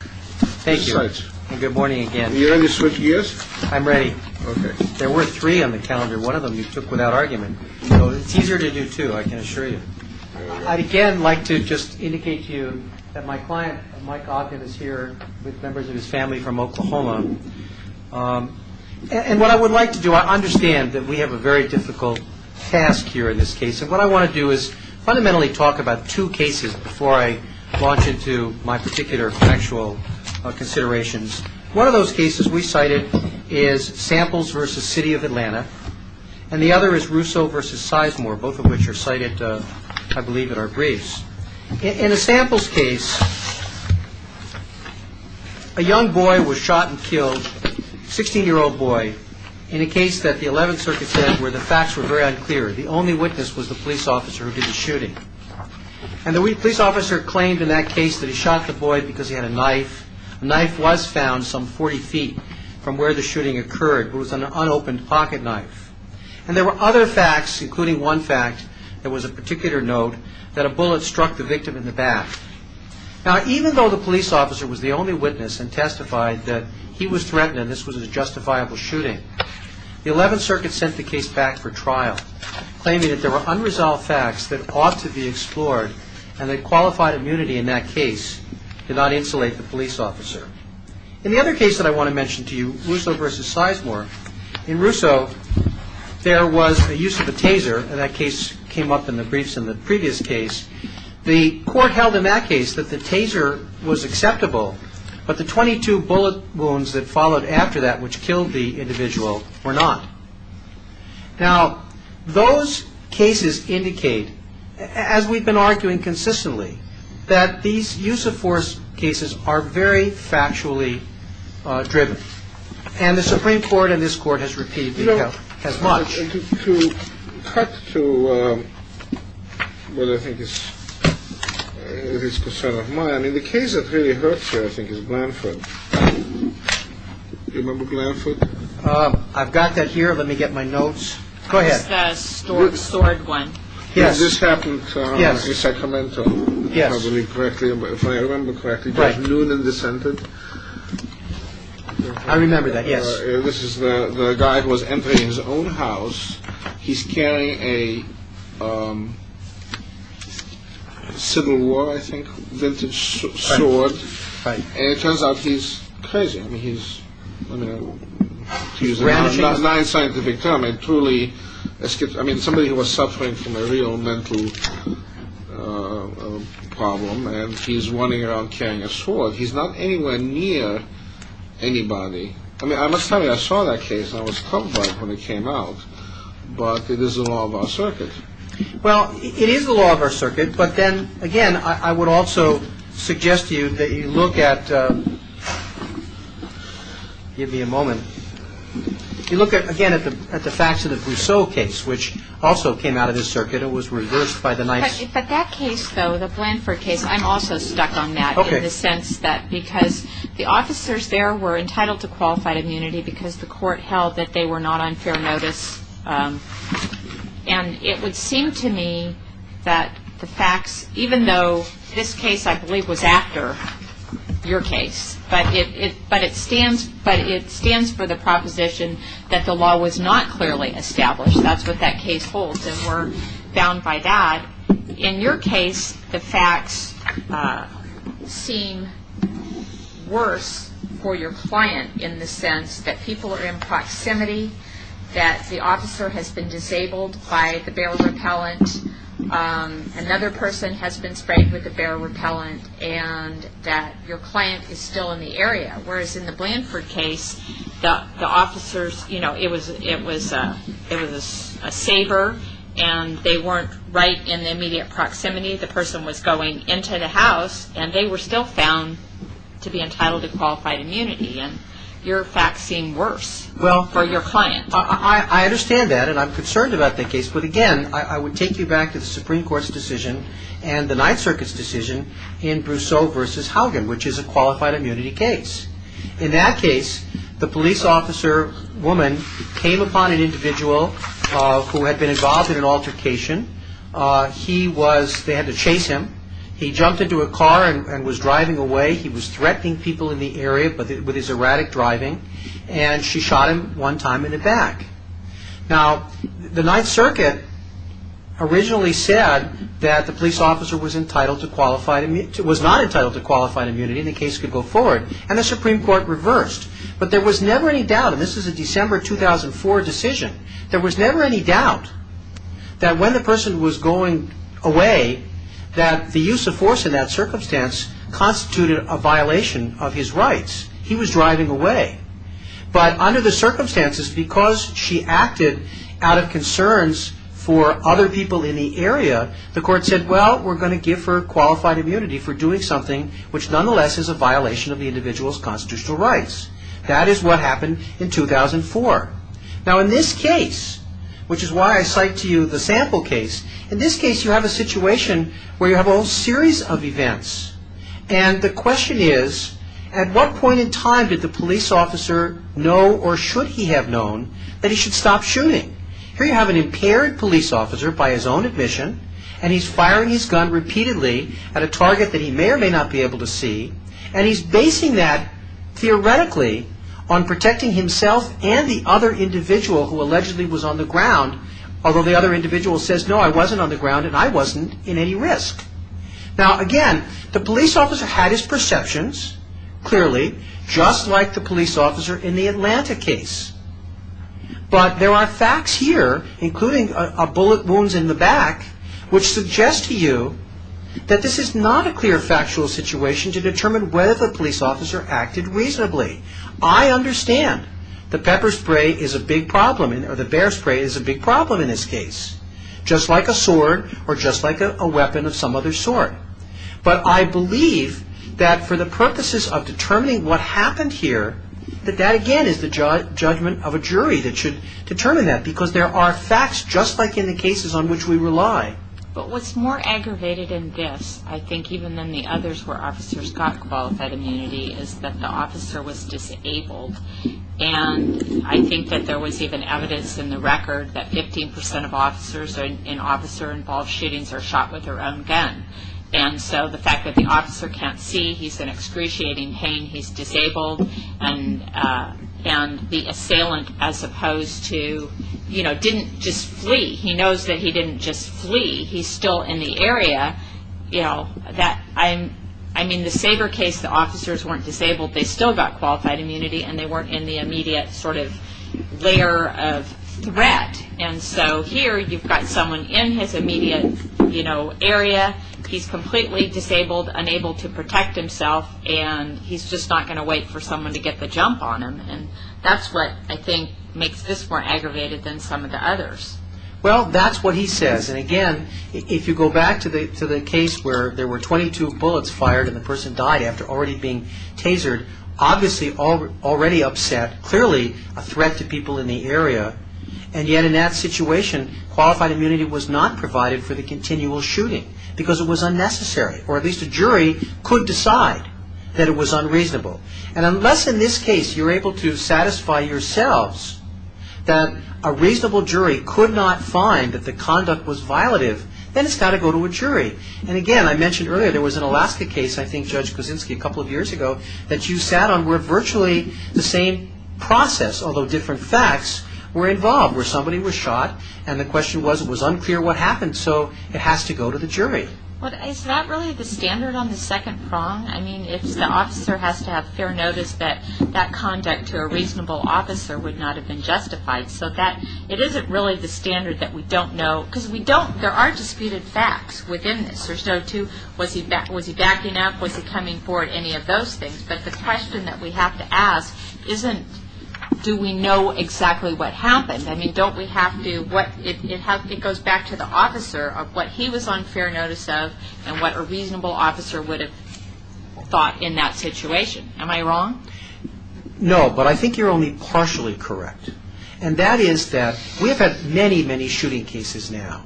Thank you. And good morning again. Are you ready to switch gears? I'm ready. Okay. There were three on the calendar. One of them you took without argument. So it's easier to do two, I can assure you. I'd again like to just indicate to you that my client Mike Ogden is here with members of his family from Oklahoma. And what I would like to do, I understand that we have a very difficult task here in this case. And what I want to do is fundamentally talk about two cases before I launch into my particular factual considerations. One of those cases we cited is Samples v. City of Atlanta. And the other is Russo v. Sizemore, both of which are cited, I believe, in our briefs. In a Samples case, a young boy was shot and killed, 16-year-old boy, in a case that the 11th Circuit said where the facts were very unclear. The only witness was the police officer who did the shooting. And the police officer claimed in that case that he shot the boy because he had a knife. The knife was found some 40 feet from where the shooting occurred. It was an unopened pocket knife. And there were other facts, including one fact that was of particular note, that a bullet struck the victim in the back. Now, even though the police officer was the only witness and testified that he was threatened and this was a justifiable shooting, the 11th Circuit sent the case back for trial, claiming that there were unresolved facts that ought to be explored and that qualified immunity in that case did not insulate the police officer. In the other case that I want to mention to you, Russo v. Sizemore, in Russo there was a use of a taser, and that case came up in the briefs in the previous case. The court held in that case that the taser was acceptable, but the 22 bullet wounds that followed after that which killed the individual were not. Now, those cases indicate, as we've been arguing consistently, that these use-of-force cases are very factually driven. And the Supreme Court and this Court has repealed as much. To cut to what I think is a concern of mine, the case that really hurts here, I think, is Glanford. Do you remember Glanford? I've got that here. Let me get my notes. Go ahead. It's the stored one. Yes. This happened in Sacramento, if I remember correctly, by noon in December. I remember that, yes. This is the guy who was entering his own house. He's carrying a Civil War, I think, vintage sword. And it turns out he's crazy. I mean, he's, to use a non-scientific term, a truly, I mean, somebody who was suffering from a real mental problem, and he's running around carrying a sword. He's not anywhere near anybody. I mean, I must tell you, I saw that case, and I was troubled by it when it came out. But it is the law of our circuit. Well, it is the law of our circuit. But then, again, I would also suggest to you that you look at – give me a moment – you look, again, at the facts of the Brousseau case, which also came out of this circuit. It was reversed by the nice – But that case, though, the Blanford case, I'm also stuck on that. Okay. In the sense that because the officers there were entitled to qualified immunity because the court held that they were not on fair notice. And it would seem to me that the facts, even though this case, I believe, was after your case, but it stands for the proposition that the law was not clearly established. That's what that case holds, and we're bound by that. In your case, the facts seem worse for your client in the sense that people are in proximity, that the officer has been disabled by the barrel repellent, another person has been sprayed with the barrel repellent, Whereas in the Blanford case, the officers – you know, it was a saver, and they weren't right in the immediate proximity. The person was going into the house, and they were still found to be entitled to qualified immunity. And your facts seem worse for your client. Well, I understand that, and I'm concerned about that case. But, again, I would take you back to the Supreme Court's decision and the Ninth Circuit's decision in Brousseau v. Haugen, which is a qualified immunity case. In that case, the police officer woman came upon an individual who had been involved in an altercation. They had to chase him. He jumped into a car and was driving away. He was threatening people in the area with his erratic driving, and she shot him one time in the back. Now, the Ninth Circuit originally said that the police officer was not entitled to qualified immunity, and the case could go forward, and the Supreme Court reversed. But there was never any doubt – and this is a December 2004 decision – there was never any doubt that when the person was going away, that the use of force in that circumstance constituted a violation of his rights. He was driving away. But under the circumstances, because she acted out of concerns for other people in the area, the court said, well, we're going to give her qualified immunity for doing something which nonetheless is a violation of the individual's constitutional rights. That is what happened in 2004. Now, in this case, which is why I cite to you the sample case, in this case you have a situation where you have a whole series of events. And the question is, at what point in time did the police officer know, or should he have known, that he should stop shooting? Here you have an impaired police officer, by his own admission, and he's firing his gun repeatedly at a target that he may or may not be able to see, and he's basing that, theoretically, on protecting himself and the other individual who allegedly was on the ground, although the other individual says, no, I wasn't on the ground, and I wasn't in any risk. Now, again, the police officer had his perceptions, clearly, just like the police officer in the Atlanta case. But there are facts here, including bullet wounds in the back, which suggest to you that this is not a clear factual situation to determine whether the police officer acted reasonably. I understand the pepper spray is a big problem, or the bear spray is a big problem in this case, just like a sword or just like a weapon of some other sort. But I believe that for the purposes of determining what happened here, that that, again, is the judgment of a jury that should determine that, because there are facts, just like in the cases on which we rely. But what's more aggravated in this, I think, even than the others where officers got qualified immunity, is that the officer was disabled. And I think that there was even evidence in the record that 15 percent of officers in officer-involved shootings are shot with their own gun. And so the fact that the officer can't see, he's in excruciating pain, he's disabled, and the assailant, as opposed to, you know, didn't just flee. He knows that he didn't just flee. He's still in the area. You know, I mean, the Sabre case, the officers weren't disabled. They still got qualified immunity, and they weren't in the immediate sort of layer of threat. And so here you've got someone in his immediate, you know, area. He's completely disabled, unable to protect himself, and he's just not going to wait for someone to get the jump on him. And that's what I think makes this more aggravated than some of the others. Well, that's what he says. And, again, if you go back to the case where there were 22 bullets fired and the person died after already being tasered, obviously already upset, clearly a threat to people in the area. And yet in that situation, qualified immunity was not provided for the continual shooting because it was unnecessary, or at least a jury could decide that it was unreasonable. And unless in this case you're able to satisfy yourselves that a reasonable jury could not find that the conduct was violative, then it's got to go to a jury. And, again, I mentioned earlier there was an Alaska case, I think, Judge Kuczynski, a couple of years ago that you sat on where virtually the same process, although different facts, were involved where somebody was shot and the question was it was unclear what happened. So it has to go to the jury. Well, is that really the standard on the second prong? I mean, if the officer has to have fair notice, that that conduct to a reasonable officer would not have been justified. So it isn't really the standard that we don't know. Because we don't, there are disputed facts within this. There's no two, was he backing up, was he coming forward, any of those things. But the question that we have to ask isn't do we know exactly what happened. I mean, don't we have to, it goes back to the officer of what he was on fair notice of and what a reasonable officer would have thought in that situation. Am I wrong? No, but I think you're only partially correct. And that is that we have had many, many shooting cases now.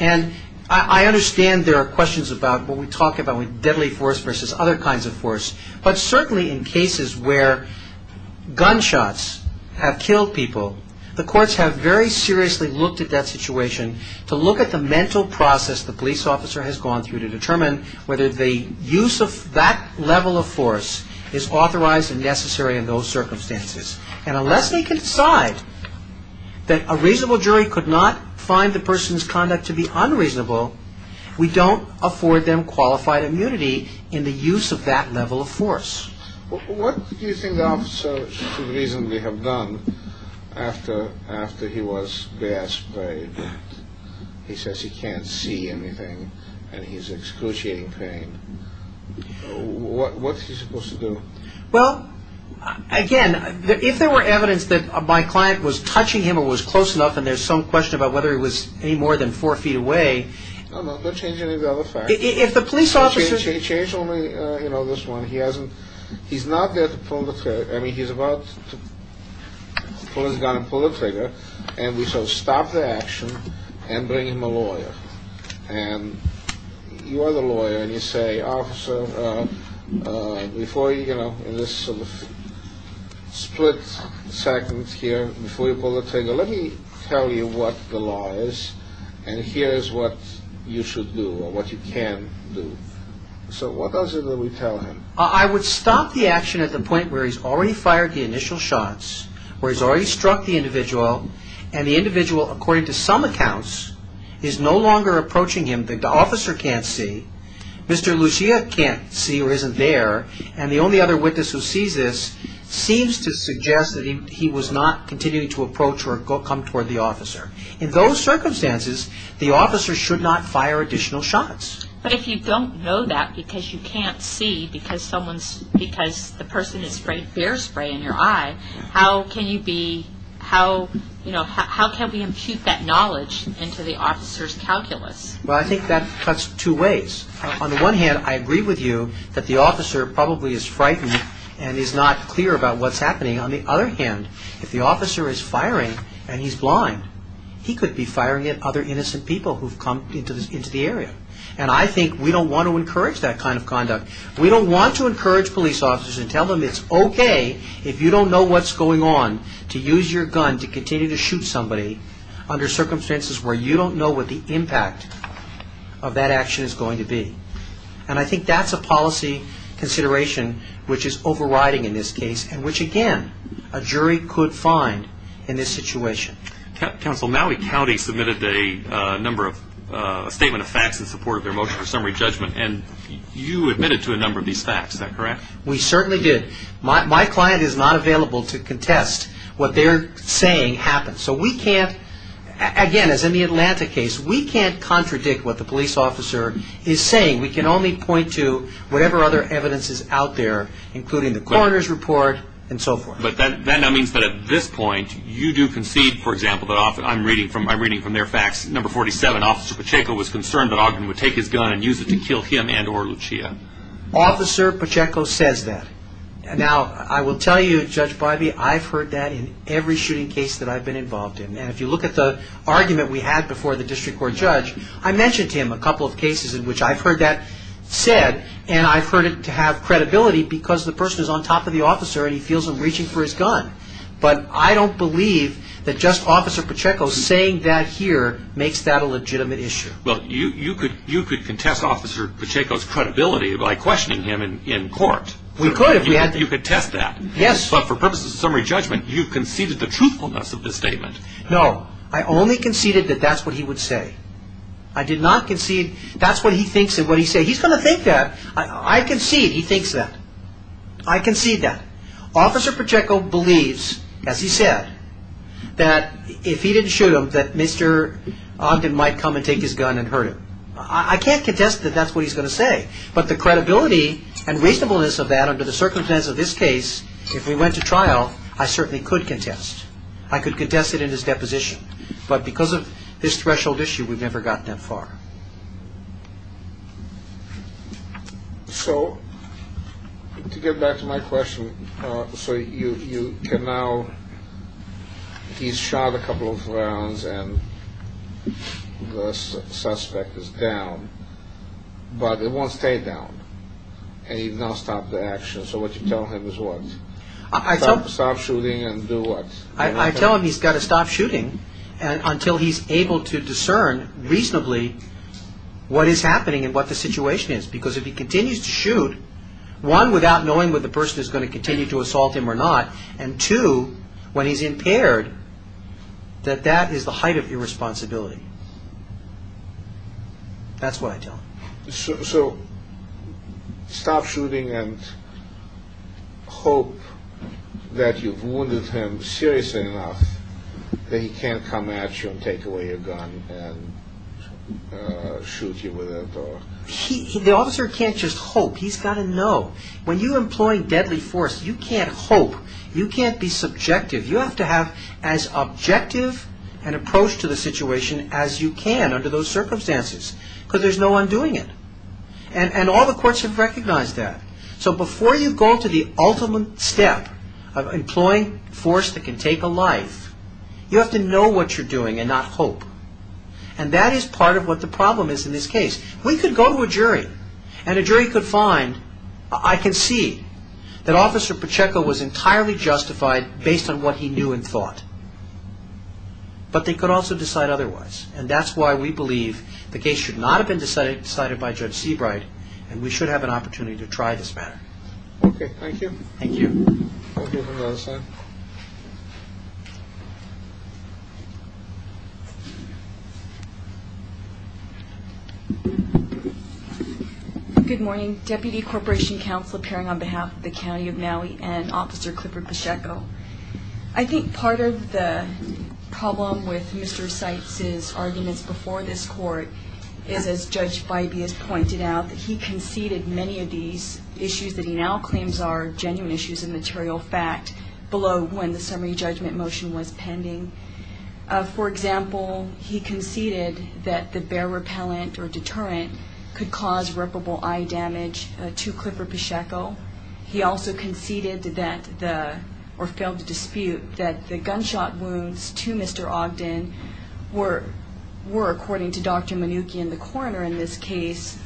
And I understand there are questions about what we talk about with deadly force versus other kinds of force. But certainly in cases where gunshots have killed people, the courts have very seriously looked at that situation to look at the mental process the police officer has gone through to determine whether the use of that level of force is authorized and necessary in those circumstances. And unless they can decide that a reasonable jury could not find the person's conduct to be unreasonable, we don't afford them qualified immunity in the use of that level of force. What do you think the officer should reasonably have done after he was gas sprayed? He says he can't see anything and he's excruciating pain. What's he supposed to do? Well, again, if there were evidence that my client was touching him or was close enough and there's some question about whether he was any more than four feet away... No, no, don't change any of the other facts. If the police officer... Change only this one. He's not there to pull the trigger. I mean, he's about to pull his gun and pull the trigger. And we should stop the action and bring him a lawyer. And you are the lawyer and you say, Mr. Officer, before you, you know, in this sort of split second here, before you pull the trigger, let me tell you what the law is and here is what you should do or what you can do. So what else are we going to tell him? I would stop the action at the point where he's already fired the initial shots, where he's already struck the individual, and the individual, according to some accounts, is no longer approaching him that the officer can't see. Mr. Lucia can't see or isn't there, and the only other witness who sees this seems to suggest that he was not continuing to approach or come toward the officer. In those circumstances, the officer should not fire additional shots. But if you don't know that because you can't see because the person has sprayed bear spray in your eye, how can you be, you know, how can we impute that knowledge into the officer's calculus? Well, I think that cuts two ways. On the one hand, I agree with you that the officer probably is frightened and is not clear about what's happening. On the other hand, if the officer is firing and he's blind, he could be firing at other innocent people who've come into the area. And I think we don't want to encourage that kind of conduct. We don't want to encourage police officers and tell them it's okay if you don't know what's going on to use your gun to continue to shoot somebody under circumstances where you don't know what the impact of that action is going to be. And I think that's a policy consideration which is overriding in this case and which, again, a jury could find in this situation. Counsel, Maui County submitted a number of statement of facts in support of their motion for summary judgment, and you admitted to a number of these facts, is that correct? We certainly did. My client is not available to contest what they're saying happened. So we can't, again, as in the Atlanta case, we can't contradict what the police officer is saying. We can only point to whatever other evidence is out there, including the coroner's report and so forth. But that now means that at this point you do concede, for example, that I'm reading from their facts, number 47, Officer Pacheco was concerned that Ogden would take his gun and use it to kill him and or Lucia. Officer Pacheco says that. Now, I will tell you, Judge Bivey, I've heard that in every shooting case that I've been involved in. And if you look at the argument we had before the district court judge, I mentioned to him a couple of cases in which I've heard that said and I've heard it to have credibility because the person is on top of the officer and he feels them reaching for his gun. But I don't believe that just Officer Pacheco saying that here makes that a legitimate issue. Well, you could contest Officer Pacheco's credibility by questioning him in court. We could if we had to. You could contest that. Yes. But for purposes of summary judgment, you conceded the truthfulness of the statement. No, I only conceded that that's what he would say. I did not concede that's what he thinks and what he says. He's going to think that. I concede he thinks that. I concede that. Officer Pacheco believes, as he said, that if he didn't shoot him, that Mr. Ogden might come and take his gun and hurt him. I can't contest that that's what he's going to say. But the credibility and reasonableness of that under the circumstances of this case, if we went to trial, I certainly could contest. I could contest it in his deposition. But because of this threshold issue, we've never gotten that far. So to get back to my question, so you can now, he's shot a couple of rounds and the suspect is down. But it won't stay down. And he's not stopped the action. So what you're telling him is what? Stop shooting and do what? I tell him he's got to stop shooting until he's able to discern reasonably what is happening and what the situation is. Because if he continues to shoot, one, without knowing whether the person is going to continue to assault him or not, and two, when he's impaired, that that is the height of irresponsibility. That's what I tell him. So stop shooting and hope that you've wounded him seriously enough that he can't come at you and take away your gun and shoot you with it? The officer can't just hope. He's got to know. When you employ deadly force, you can't hope. You can't be subjective. You have to have as objective an approach to the situation as you can under those circumstances because there's no undoing it. And all the courts have recognized that. So before you go to the ultimate step of employing force that can take a life, you have to know what you're doing and not hope. And that is part of what the problem is in this case. We could go to a jury and a jury could find, I can see that Officer Pacheco was entirely justified based on what he knew and thought, but they could also decide otherwise. And that's why we believe the case should not have been decided by Judge Seabright and we should have an opportunity to try this matter. Okay, thank you. Thank you. We'll go to the other side. Good morning. Deputy Corporation Counsel appearing on behalf of the County of Maui and Officer Clifford Pacheco. I think part of the problem with Mr. Seitz's arguments before this court is, as Judge Bybee has pointed out, that he conceded many of these issues that he now claims are genuine issues and material fact below when the summary judgment motion was pending. For example, he conceded that the bare repellent or deterrent could cause reparable eye damage to Clifford Pacheco. He also conceded that the, or failed to dispute, that the gunshot wounds to Mr. Ogden were, according to Dr. Manukian, the coroner in this case,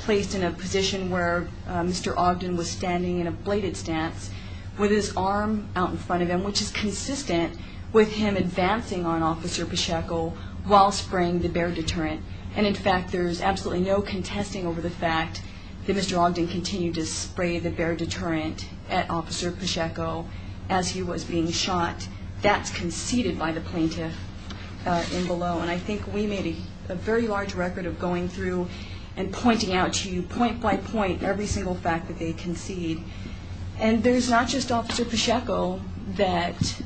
placed in a position where Mr. Ogden was standing in a bladed stance with his arm out in front of him, which is consistent with him advancing on Officer Pacheco while spraying the bare deterrent. And, in fact, there's absolutely no contesting over the fact that Mr. Ogden continued to spray the bare deterrent at Officer Pacheco as he was being shot. That's conceded by the plaintiff in below. And I think we made a very large record of going through and pointing out to you point by point every single fact that they concede. And there's not just Officer Pacheco that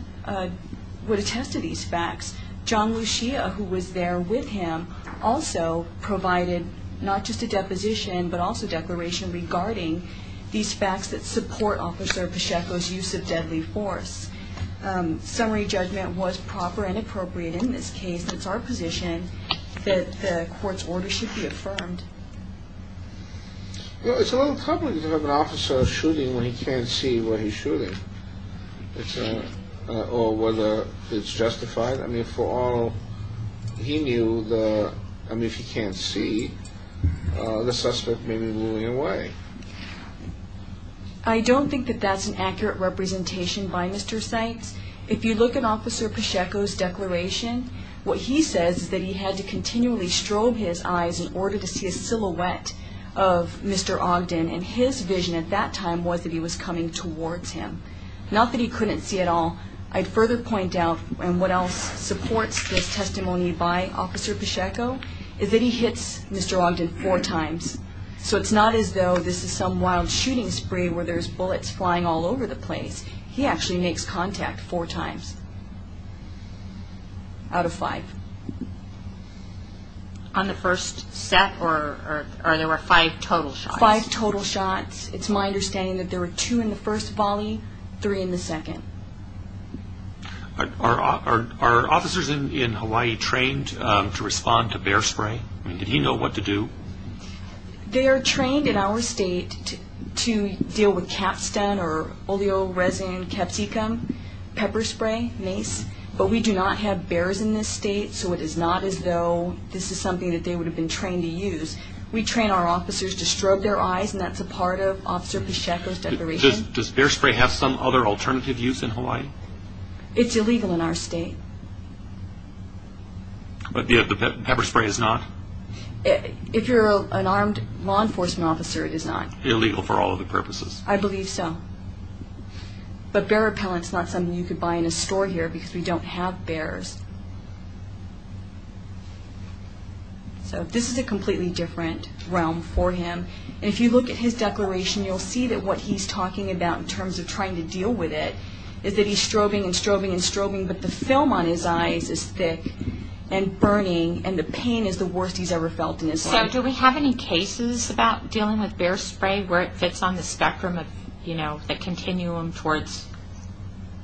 would attest to these facts. John Lucia, who was there with him, also provided not just a deposition but also declaration regarding these facts that support Officer Pacheco's use of deadly force. Summary judgment was proper and appropriate in this case. It's our position that the court's order should be affirmed. Well, it's a little troubling to have an officer shooting when he can't see what he's shooting, or whether it's justified. I mean, for all he knew, if he can't see, the suspect may be moving away. I don't think that that's an accurate representation by Mr. Sykes. If you look at Officer Pacheco's declaration, what he says is that he had to continually strobe his eyes in order to see a silhouette of Mr. Ogden, and his vision at that time was that he was coming towards him. Not that he couldn't see at all. I'd further point out, and what else supports this testimony by Officer Pacheco, is that he hits Mr. Ogden four times. So it's not as though this is some wild shooting spree where there's bullets flying all over the place. He actually makes contact four times out of five. On the first set, or there were five total shots? Five total shots. It's my understanding that there were two in the first volley, three in the second. Are officers in Hawaii trained to respond to bear spray? Did he know what to do? They are trained in our state to deal with capstan, or oleoresin, capsicum, pepper spray, mace. But we do not have bears in this state, so it is not as though this is something that they would have been trained to use. We train our officers to strobe their eyes, and that's a part of Officer Pacheco's declaration. Does bear spray have some other alternative use in Hawaii? It's illegal in our state. But the pepper spray is not? If you're an armed law enforcement officer, it is not. Illegal for all other purposes. I believe so. But bear repellent is not something you could buy in a store here because we don't have bears. So this is a completely different realm for him. And if you look at his declaration, you'll see that what he's talking about in terms of trying to deal with it is that he's strobing and strobing and strobing, but the film on his eyes is thick and burning, and the pain is the worst he's ever felt in his life. So do we have any cases about dealing with bear spray, where it fits on the spectrum of, you know, the continuum towards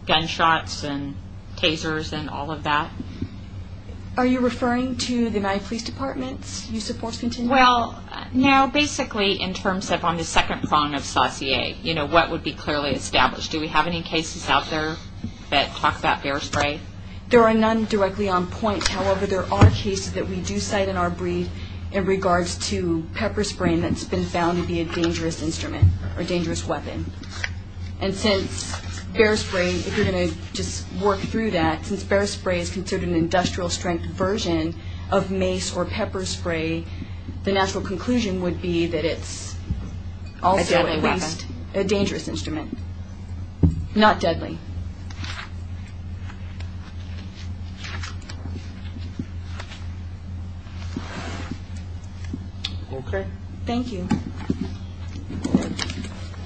gunshots and tasers and all of that? Are you referring to the United Police Department's use of force continuum? Well, no, basically in terms of on the second prong of saucier, you know, what would be clearly established. Do we have any cases out there that talk about bear spray? There are none directly on point. However, there are cases that we do cite in our brief in regards to pepper spray that's been found to be a dangerous instrument or dangerous weapon. And since bear spray, if you're going to just work through that, since bear spray is considered an industrial strength version of mace or pepper spray, the natural conclusion would be that it's also a dangerous instrument, not deadly. Okay. Thank you.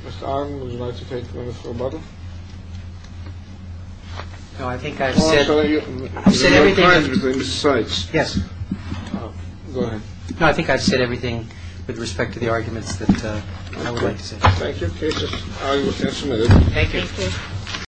Mr. Arnn, would you like to take the microphone? No, I think I've said everything. Yes. No, I think I've said everything with respect to the arguments that I would like to say. Thank you. Thank you.